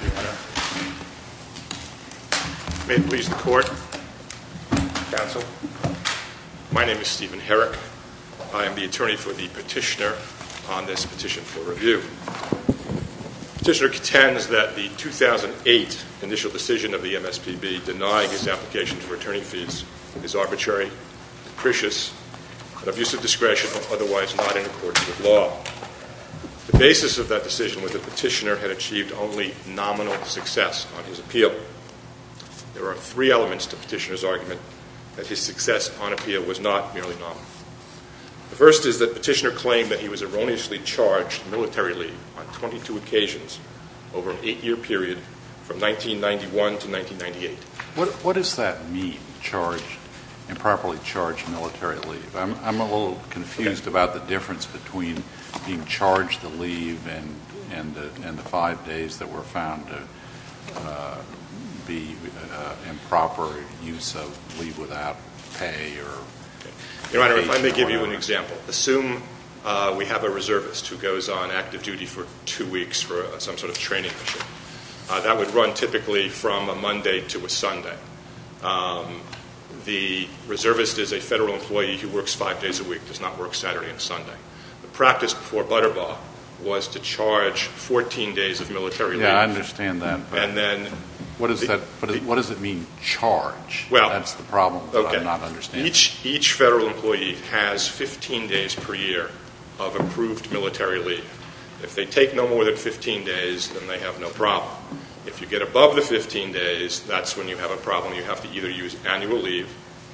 May it please the court, counsel, my name is Stephen Herrick. I am the attorney for the petitioner on this petition for review. The petitioner contends that the 2008 initial decision of the MSPB denying his application for attorney fees is arbitrary, capricious, and an abuse of discretion otherwise not in accordance with law. The basis of that decision was that the petitioner had achieved only nominal success on his appeal. There are three elements to the petitioner's argument that his success on appeal was not merely nominal. The first is that the petitioner claimed that he was erroneously charged military leave on 22 occasions over an eight-year period from 1991 to 1998. What does that mean, charged, improperly charged military leave? I'm a little confused about the difference between being charged the leave and the five days that were found to be improper use of leave without pay or paid for or not. Your Honor, if I may give you an example. Assume we have a reservist who goes on active duty for two weeks for some sort of training mission. That would run typically from a Monday to a Sunday. The reservist is a federal employee who works five days a week, does not work Saturday and Sunday. The practice before Butterbaugh was to charge 14 days of military leave. I understand that. But what does it mean, charge? That's the problem that I'm not understanding. Each federal employee has 15 days per year of approved military leave. If they take no more than 15 days, then they have no problem. If you get above the 15 days, that's when you have a problem. You have to either use annual leave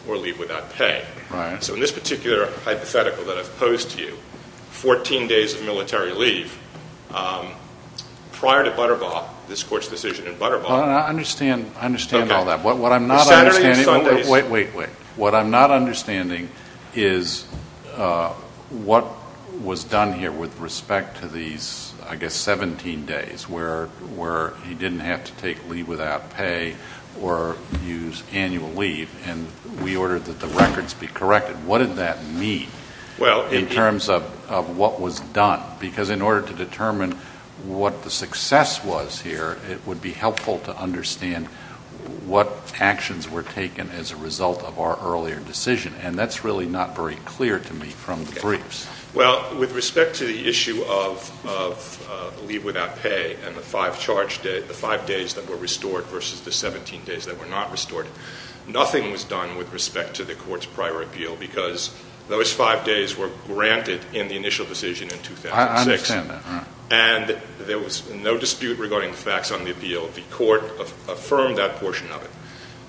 or leave without pay. Right. So in this particular hypothetical that I've posed to you, 14 days of military leave, prior to Butterbaugh, this Court's decision in Butterbaugh I understand all that. But what I'm not understanding Saturday and Sundays Wait, wait, wait. What I'm not understanding is what was done here with respect to these, I guess, 17 days where he didn't have to take leave without pay or use annual leave. And we ordered that the records be corrected. What did that mean in terms of what was done? Because in order to determine what the success was here, it would be helpful to understand what actions were taken as a result of our earlier decision. And that's really not very clear to me from the briefs. Well, with respect to the issue of leave without pay and the five days that were restored versus the 17 days that were not restored, nothing was done with respect to the Court's prior appeal because those five days were granted in the initial decision in 2006. I understand that. And there was no dispute regarding the facts on the appeal. The Court affirmed that portion of it.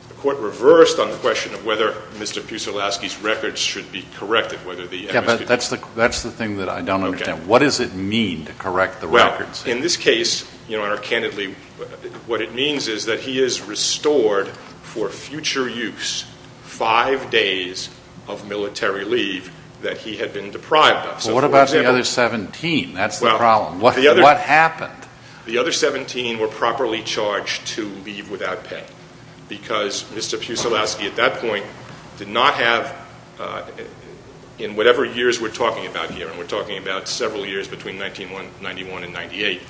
The Court reversed on the question of whether Mr. Puselowski's records should be corrected, whether the MSPB Yeah, but that's the thing that I don't understand. What does it mean to correct the records? In this case, Your Honor, candidly, what it means is that he is restored for future use five days of military leave that he had been deprived of. Well, what about the other 17? That's the problem. What happened? The other 17 were properly charged to leave without pay because Mr. Puselowski at that point did not have, in whatever years we're talking about here, and we're talking about several years between 1991 and 1998,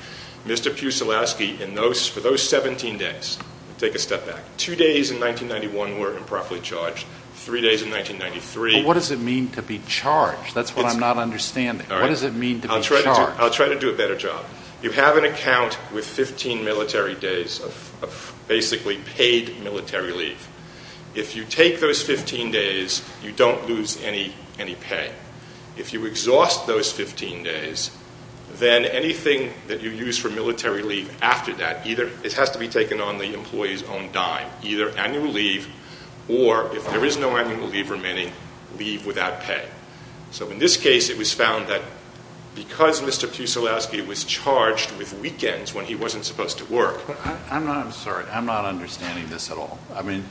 Mr. Puselowski, for those 17 days, take a step back, two days in 1991 were improperly charged, three days in 1993 What does it mean to be charged? That's what I'm not understanding. What does it mean to be charged? I'll try to do a better job. You have an account with 15 military days of basically paid military leave. If you take those 15 days, you don't lose any pay. If you exhaust those 15 days, then anything that you use for military leave after that, either it has to be taken on the employee's own dime, either annual leave, or if there is no annual leave remaining, leave without pay. So in this case, it was found that because Mr. Puselowski was charged with weekends when he wasn't supposed to work I'm not, I'm sorry, I'm not understanding this at all. I mean,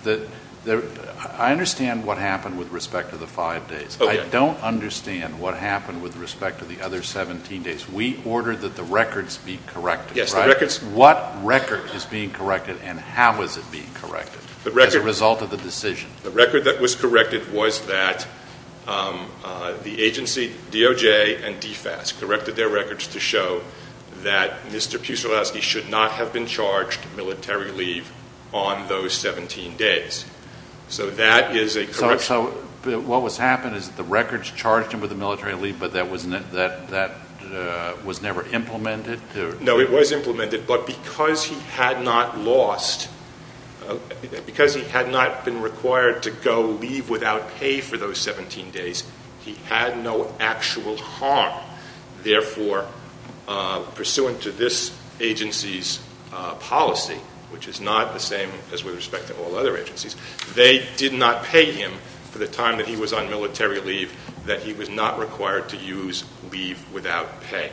I understand what happened with respect to the five days. I don't understand what happened with respect to the other 17 days. We ordered that the records be corrected, right? What record is being corrected and how is it being corrected as a result of the decision? The record that was corrected was that the agency, DOJ and DFAS, corrected their records to show that Mr. Puselowski should not have been charged military leave on those 17 days. So that is a correction. So what was happened is that the records charged him with a military leave, but that was never implemented? No, it was implemented, but because he had not lost, because he had not been required to go leave without pay for those 17 days, he had no actual harm. Therefore, pursuant to this agency's policy, which is not the same as with respect to all other agencies, they did not pay him for the time that he was on military leave, that he was not required to use leave without pay.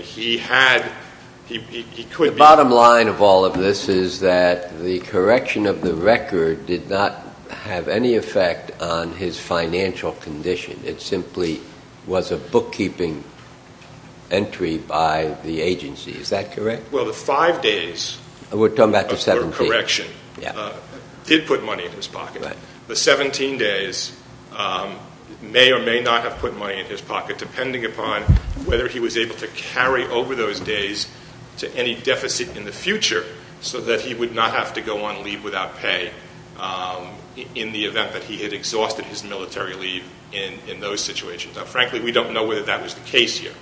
He had, he could be- The bottom line of all of this is that the correction of the record did not have any effect on his financial condition. It simply was a bookkeeping entry by the agency. Is that correct? Well, the five days- We're talking about the 17.... of the correction did put money in his pocket. The 17 days may or may not have put money in his pocket, depending upon whether he was able to carry over those days to any deficit in the future so that he would not have to go on leave without pay in the event that he had exhausted his military leave in those situations. Now, frankly, we don't know whether that was the case here.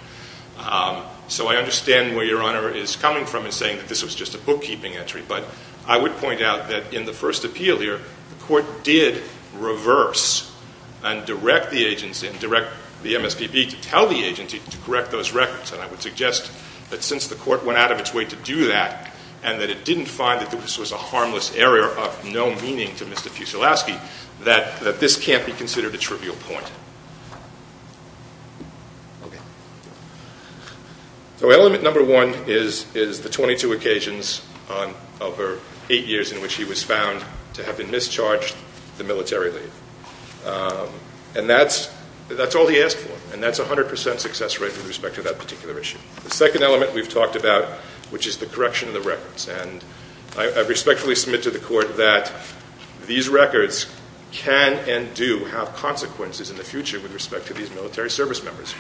So I understand where Your Honor is coming from in saying that this was just a bookkeeping entry, but I would point out that in the first appeal here, the court did reverse and direct the agents and direct the MSPB to tell the agency to correct those records. And I would suggest that since the court went out of its way to do that and that it didn't find that this was a harmless error of no meaning to Mr. Hickman, that this was a trivial point. So element number one is the 22 occasions over eight years in which he was found to have been mischarged the military leave. And that's all he asked for, and that's a hundred percent success rate with respect to that particular issue. The second element we've talked about, which is the correction of the records. And I respectfully submit to the court that these records can and do have consequences in the future with respect to these military service members.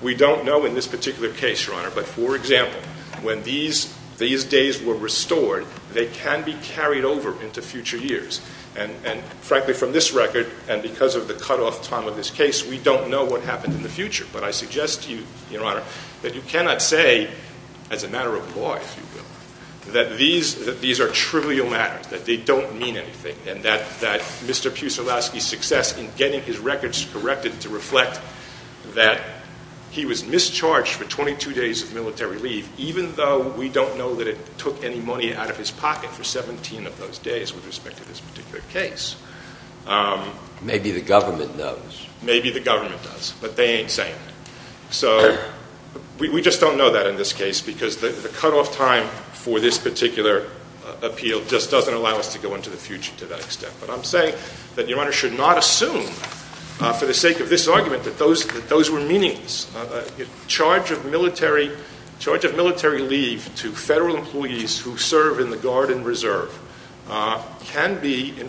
We don't know in this particular case, Your Honor, but for example, when these days were restored, they can be carried over into future years. And frankly, from this record and because of the cutoff time of this case, we don't know what happened in the future. But I suggest to you, Your Honor, that you cannot say as a matter of law, if you will, that these are trivial matters, that they don't mean anything, and that Mr. Pusilowski's success in getting his records corrected to reflect that he was mischarged for 22 days of military leave, even though we don't know that it took any money out of his pocket for 17 of those days with respect to this particular case. Maybe the government knows. Maybe the government does, but they ain't saying anything. So we just don't know that in this case because the cutoff time for this particular appeal just doesn't allow us to go into the future to that extent. But I'm saying that Your Honor should not assume for the sake of this argument that those were meaningless. Charge of military leave to federal employees who serve in the Guard and Reserve can be a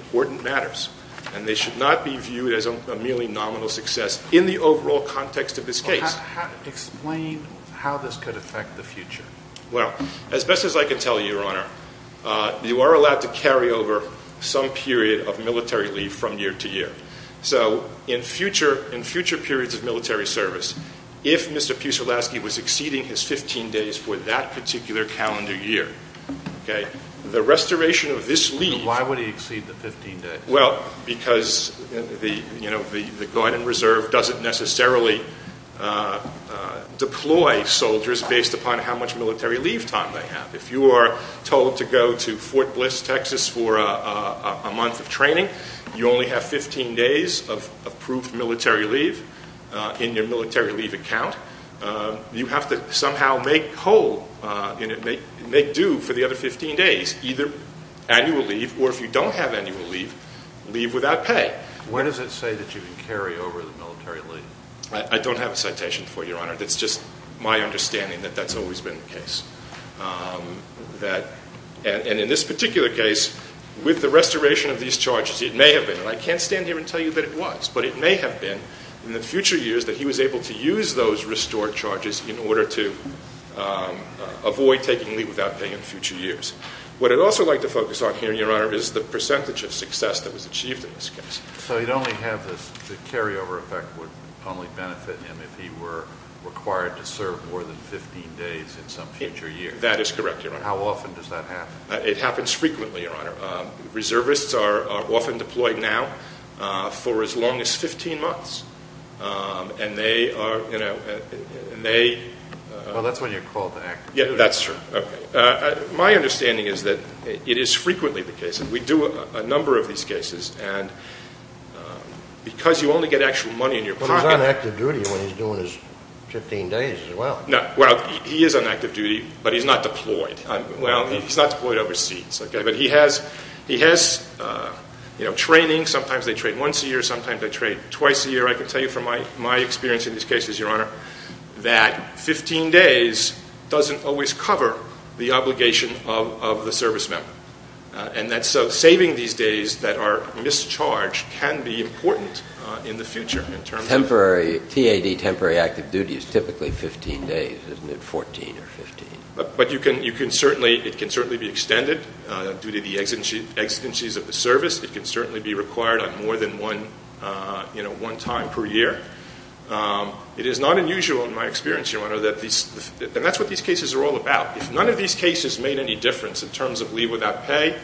merely nominal success in the overall context of this case. Explain how this could affect the future. As best as I can tell you, Your Honor, you are allowed to carry over some period of military leave from year to year. So in future periods of military service, if Mr. Pusilowski was exceeding his 15 days for that particular calendar year, the restoration of this leave... Why would he exceed the 15 days? Well, because the Guard and Reserve doesn't necessarily deploy soldiers based upon how much military leave time they have. If you are told to go to Fort Bliss, Texas for a month of training, you only have 15 days of approved military leave in your military leave account. You have to somehow make do for the other 15 days, either annual leave or if you are told to leave without pay. When does it say that you can carry over the military leave? I don't have a citation for you, Your Honor. It's just my understanding that that's always been the case. And in this particular case, with the restoration of these charges, it may have been, and I can't stand here and tell you that it was, but it may have been in the future years that he was able to use those restored charges in order to avoid taking leave without pay in future years. What I'd also like to focus on here, Your Honor, is the percentage of success that was achieved in this case. So you'd only have this, the carryover effect would only benefit him if he were required to serve more than 15 days in some future year? That is correct, Your Honor. How often does that happen? It happens frequently, Your Honor. Reservists are often deployed now for as long as 15 months, and they are, you know, and they... Well, that's when you're called to act. That's true. Okay. My understanding is that it is frequently the case, and we do a number of these cases, and because you only get actual money in your pocket... But he's on active duty when he's doing his 15 days as well. No. Well, he is on active duty, but he's not deployed. Well, he's not deployed overseas, okay? But he has, you know, training. Sometimes they train once a year, sometimes they train twice a year. I can tell you from my experience in these cases, Your Honor, that 15 days doesn't always cover the obligation of the service member, and that's so saving these days that are mischarged can be important in the future in terms of... Temporary, T.A.D., temporary active duty is typically 15 days, isn't it? 14 or 15. But you can certainly, it can certainly be extended due to the exigencies of the service. It can certainly be required on more than one, you know, one time per year. It is not unusual in my experience, Your Honor, that these, and that's what these cases are all about. If none of these cases made any difference in terms of leave without pay,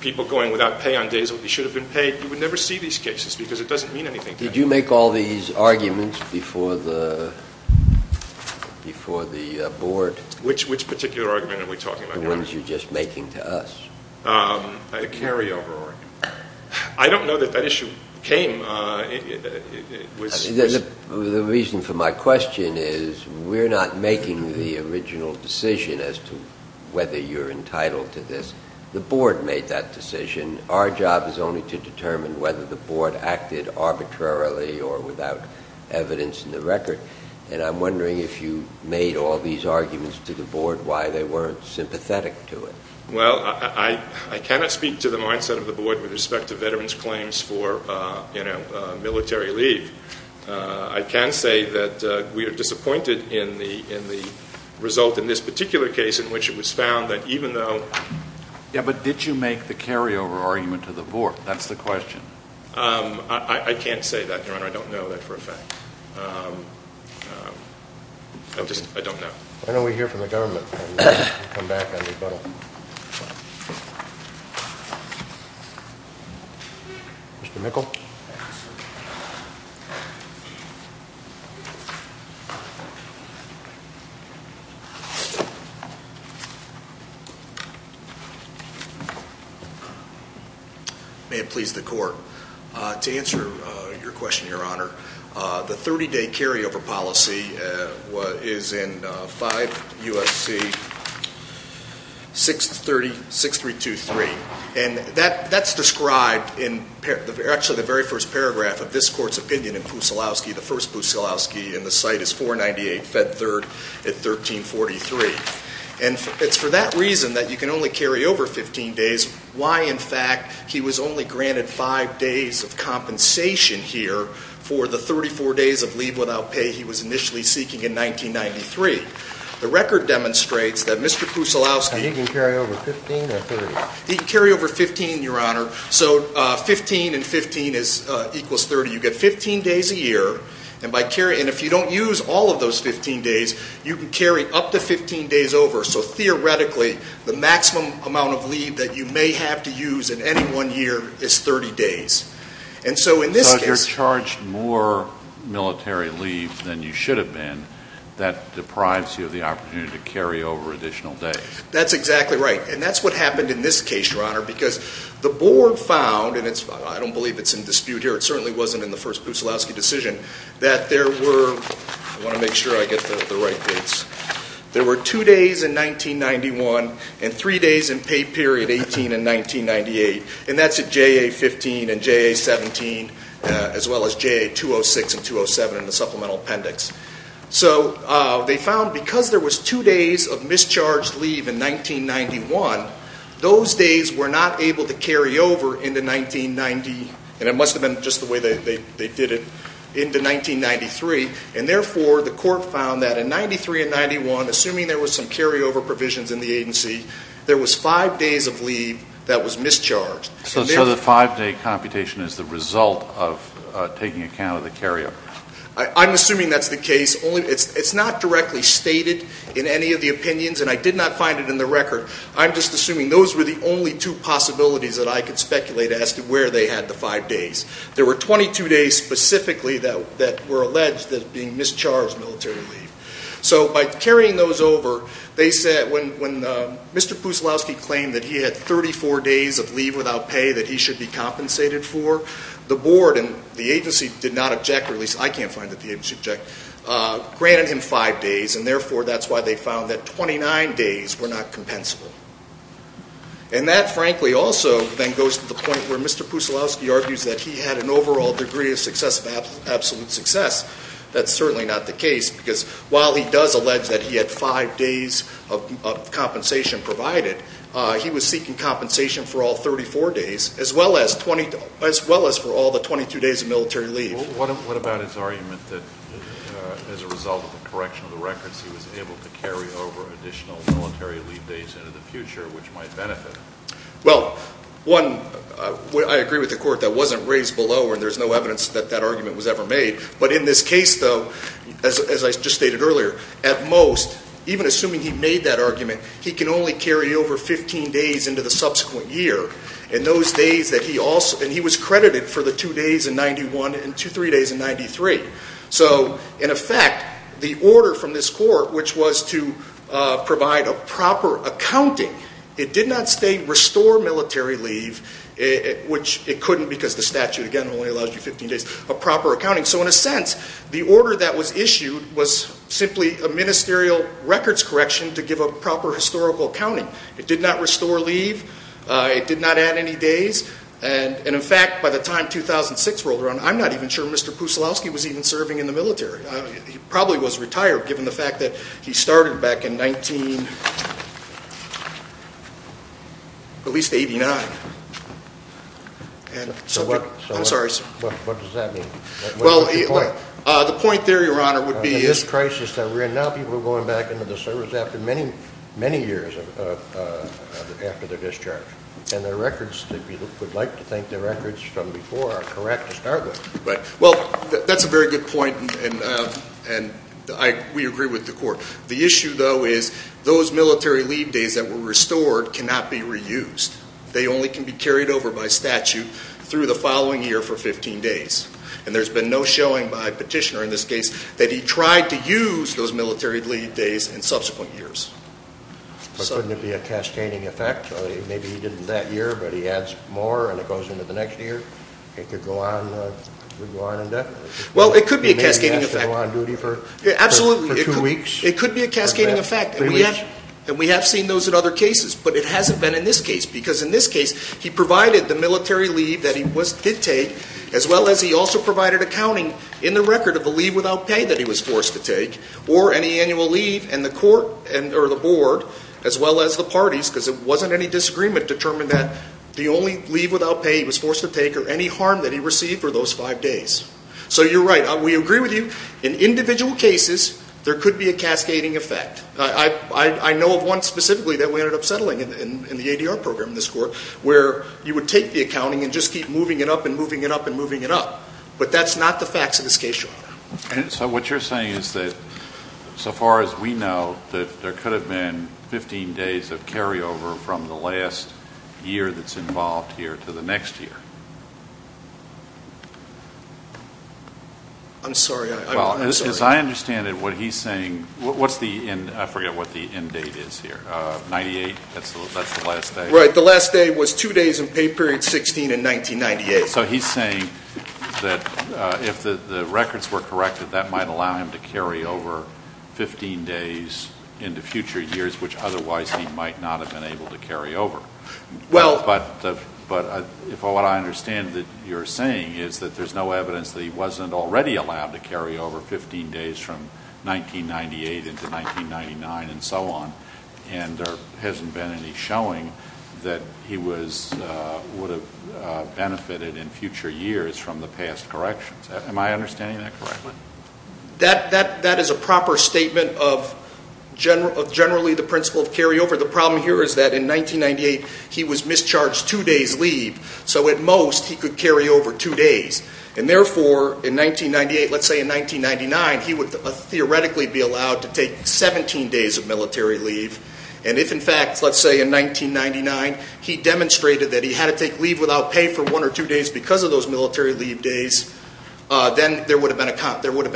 people going without pay on days when they should have been paid, you would never see these cases because it doesn't mean anything to anybody. Did you make all these arguments before the Board? Which particular argument are we talking about here? The ones you're just making to us. A carryover argument. I don't know that that issue came. It was... You see, the reason for my question is we're not making the original decision as to whether you're entitled to this. The Board made that decision. Our job is only to determine whether the Board acted arbitrarily or without evidence in the record. And I'm wondering if you made all these arguments to the Board why they weren't sympathetic to it. Well, I cannot speak to the mindset of the Board with respect to veterans' claims for, you know, military leave. I can say that we are disappointed in the result in this particular case in which it was found that even though... Yeah, but did you make the carryover argument to the Board? That's the question. I can't say that, Your Honor. I don't know that for a fact. I just, I don't know. Why don't we hear from the government and come back on the rebuttal? Mr. Mikkel? May it please the Court. To answer your question, Your Honor, the 30-day carryover policy is in 5 U.S.C. 632.3. And that's described in actually the very first paragraph of this Court's opinion in Pouselowski, the first Pouselowski, and the site is 498 Fed Third at 1343. And it's for that reason that you can only carry over 15 days. Why, in fact, he was only granted 5 days of compensation here for the 34 days of leave without pay he was initially seeking in 1993. The record demonstrates that Mr. Pouselowski... And he can carry over 15 or 30? He can carry over 15, Your Honor. So 15 and 15 equals 30. You get 15 days a year. And by carrying... And if you don't use all of those 15 days, you can carry up to 15 days over. So theoretically, the maximum amount of leave that you may have to use in any one year is 30 days. And so in this case... So if you're charged more military leave than you should have been, that deprives you of the opportunity to carry over additional days. That's exactly right. And that's what happened in this case, Your Honor, because the Board found, and I don't believe it's in dispute here, it certainly wasn't in the first Pouselowski decision, that there were... I want to make a mistake here. There were two days of leave period, 18 and 1998. And that's at JA-15 and JA-17, as well as JA-206 and 207 in the supplemental appendix. So they found, because there was two days of mischarged leave in 1991, those days were not able to carry over into 1990... And it must have been just the way they did it, into 1993. And therefore, the court found that in 93 and 91, assuming there was some carryover provisions in the agency, there was five days of leave that was mischarged. So the five-day computation is the result of taking account of the carryover? I'm assuming that's the case. It's not directly stated in any of the opinions, and I did not find it in the record. I'm just assuming those were the only two possibilities that I could speculate as to where they had the five days. There were 22 days specifically that were alleged as being mischarged military leave. So by carrying those over, they said when Mr. Pusilowski claimed that he had 34 days of leave without pay that he should be compensated for, the board and the agency did not object, or at least I can't find that the agency objected, granted him five days. And therefore, that's why they found that 29 days were not compensable. And that, frankly, also then goes to the point where Mr. Pusilowski argues that he had an overall degree of success, of absolute success. That's certainly not the case, because while he does allege that he had five days of compensation provided, he was seeking compensation for all 34 days, as well as for all the 22 days of military leave. What about his argument that as a result of the correction of the records, he was able to carry over additional military leave days into the future, which might benefit him? Well, one, I agree with the court that wasn't raised below, and there's no evidence that that argument was ever made. But in this case, though, as I just stated earlier, at most, even assuming he made that argument, he can only carry over 15 days into the subsequent year. And those days that he also, and he was credited for the two days in 91 and two, three days in 93. So in effect, the order from this court, which was to provide a proper accounting, it did not say restore military leave, which it couldn't because the statute, again, only allows you 15 days of proper accounting. So in a sense, the order that was issued was simply a ministerial records correction to give a proper historical accounting. It did not restore leave. It did not add any days. And in fact, by the time 2006 rolled around, I'm not even sure Mr. Pusilowski was even serving in the military. He probably was retired, given the fact that he started back in 19, at least, 89. And so what I'm sorry, sir. What does that mean? Well, the point there, Your Honor, would be... In this crisis that we're in now, people are going back into the service after many, many years after their discharge. And their records, we would like to think their records from before are correct to start with. Right. Well, that's a very good point. And we agree with the court. The issue, though, is those military leave days that were restored cannot be reused. They only can be carried over by statute through the following year for 15 days. And there's been no showing by Petitioner in this case that he tried to use those military leave days in subsequent years. But couldn't it be a cascading effect? Maybe he did it that year, but he adds more and it goes into the next year? It could go on indefinitely? Well, it could be a cascading effect. Maybe he has to go on duty for two weeks? Absolutely. It could be a cascading effect. And we have seen those in other cases. But it hasn't been in this case. Because in this case, he provided the military leave that he did take, as well as he also provided accounting in the record of the leave without pay that he was forced to take, or any annual leave. And the court, or the board, as well as the parties, because it wasn't any disagreement, determined that the only leave without pay he was forced to take or any harm that he received were those five days. So you're right. We agree with you. In individual cases, there could be a cascading effect. I know of one specifically that we ended up settling in the ADR program in this court, where you would take the accounting and just keep moving it up and moving it up and moving it up. But that's not the facts of this case, Your Honor. So what you're saying is that so far as we know, that there could have been 15 days of carryover from the last year that's involved here to the next year? I'm sorry. I'm sorry. As I understand it, what he's saying, what's the end, I forget what the end date is here, 98? That's the last day? Right. The last day was two days in pay period 16 in 1998. So he's saying that if the records were corrected, that might allow him to carry over 15 days into future years, which otherwise he might not have been able to carry over. Well But if what I understand that you're saying is that there's no evidence that he wasn't already allowed to carry over 15 days from 1998 into 1999 and so on, and there hasn't been any showing that he would have benefited in future years from the past corrections. Am I understanding that correctly? That is a proper statement of generally the principle of carryover. The problem here is that in 1998, he was mischarged two days leave, so at most he could carry over two days. And therefore, in 1998, let's say in 1999, he would theoretically be allowed to take 17 days of military leave. And if in fact, let's say in 1999, he demonstrated that he had to take leave without pay for one or two days because of those military leave days, then there would have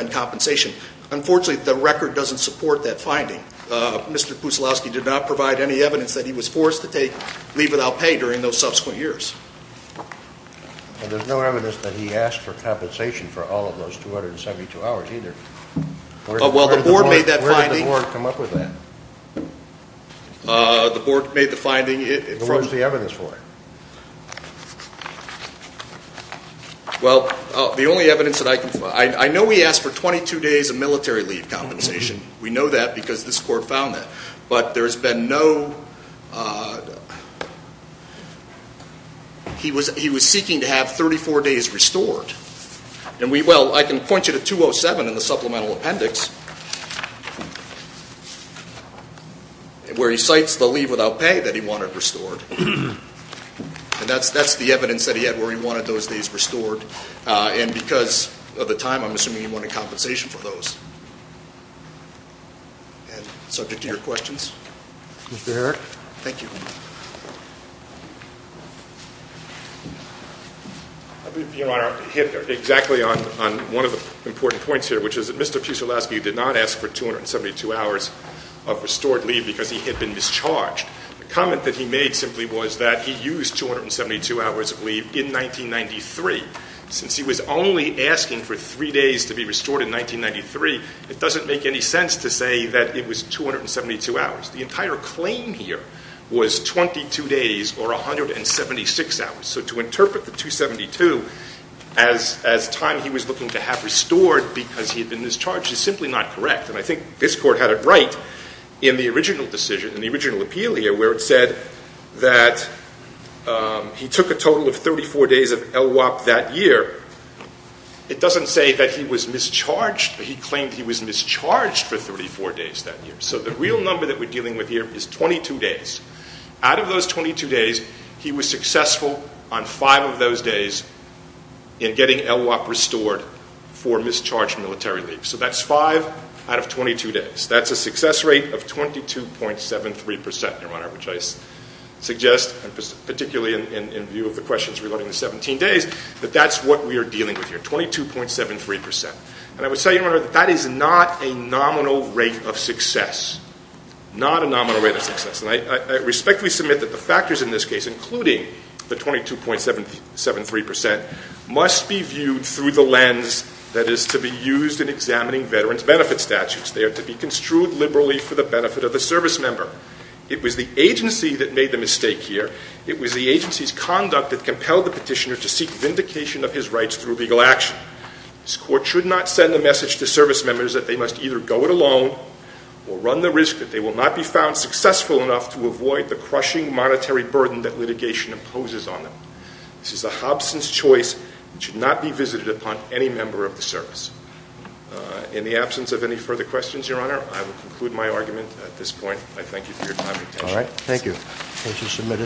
been compensation. Unfortunately, the record doesn't support that finding. Mr. Pusilowski did not provide any evidence that he was forced to take leave without pay during those subsequent years. There's no evidence that he asked for compensation for all of those 272 hours either. Well, the board made that finding. Where did the board come up with that? The board made the finding. What was the evidence for it? Well, the only evidence that I can find, I know we asked for 22 days of military leave without compensation. We know that because this court found that. But there has been no... He was seeking to have 34 days restored. Well, I can point you to 207 in the supplemental appendix where he cites the leave without pay that he wanted restored. And that's the evidence that he had where he wanted those days restored. And because of the time, I'm assuming he wanted compensation for those. And subject to your questions. Mr. Herrick? Thank you. I'll be, Your Honor, hitting exactly on one of the important points here, which is that Mr. Pusilowski did not ask for 272 hours of restored leave because he had been discharged. The comment that he made simply was that he used 272 hours of leave in 1993 since he was only asking for three days to be restored in 1993. It doesn't make any sense to say that it was 272 hours. The entire claim here was 22 days or 176 hours. So to interpret the 272 as time he was looking to have restored because he had been discharged is simply not correct. And I think this court had it right in the original decision, in the original appeal here where it said that he took a total of 34 days of LWOP that year. It doesn't say that he was mischarged. He claimed he was mischarged for 34 days that year. So the real number that we're dealing with here is 22 days. Out of those 22 days, he was successful on five of those days in getting LWOP restored for mischarged military leave. So that's five out of 22 days. That's a success rate of 22.73%, Your Honor, which I suggest, particularly in view of the questions regarding the 17 days, that that's what we are dealing with here, 22.73%. And I would say, Your Honor, that that is not a nominal rate of success. Not a nominal rate of success. And I respectfully submit that the factors in this case, including the 22.73%, must be viewed through the lens that is to be used in examining veterans' benefit statutes. They are to be construed liberally for the benefit of the service member. It was the agency that made the mistake here. It was the agency's conduct that compelled the petitioner to seek vindication of his rights through legal action. This Court should not send a message to service members that they must either go it alone or run the risk that they will not be found successful enough to avoid the crushing monetary burden that litigation imposes on them. This is a hobson's choice. It should not be visited upon any member of the service. In the absence of any further questions, Your Honor, I will conclude my argument at this point. I thank you for your time and attention.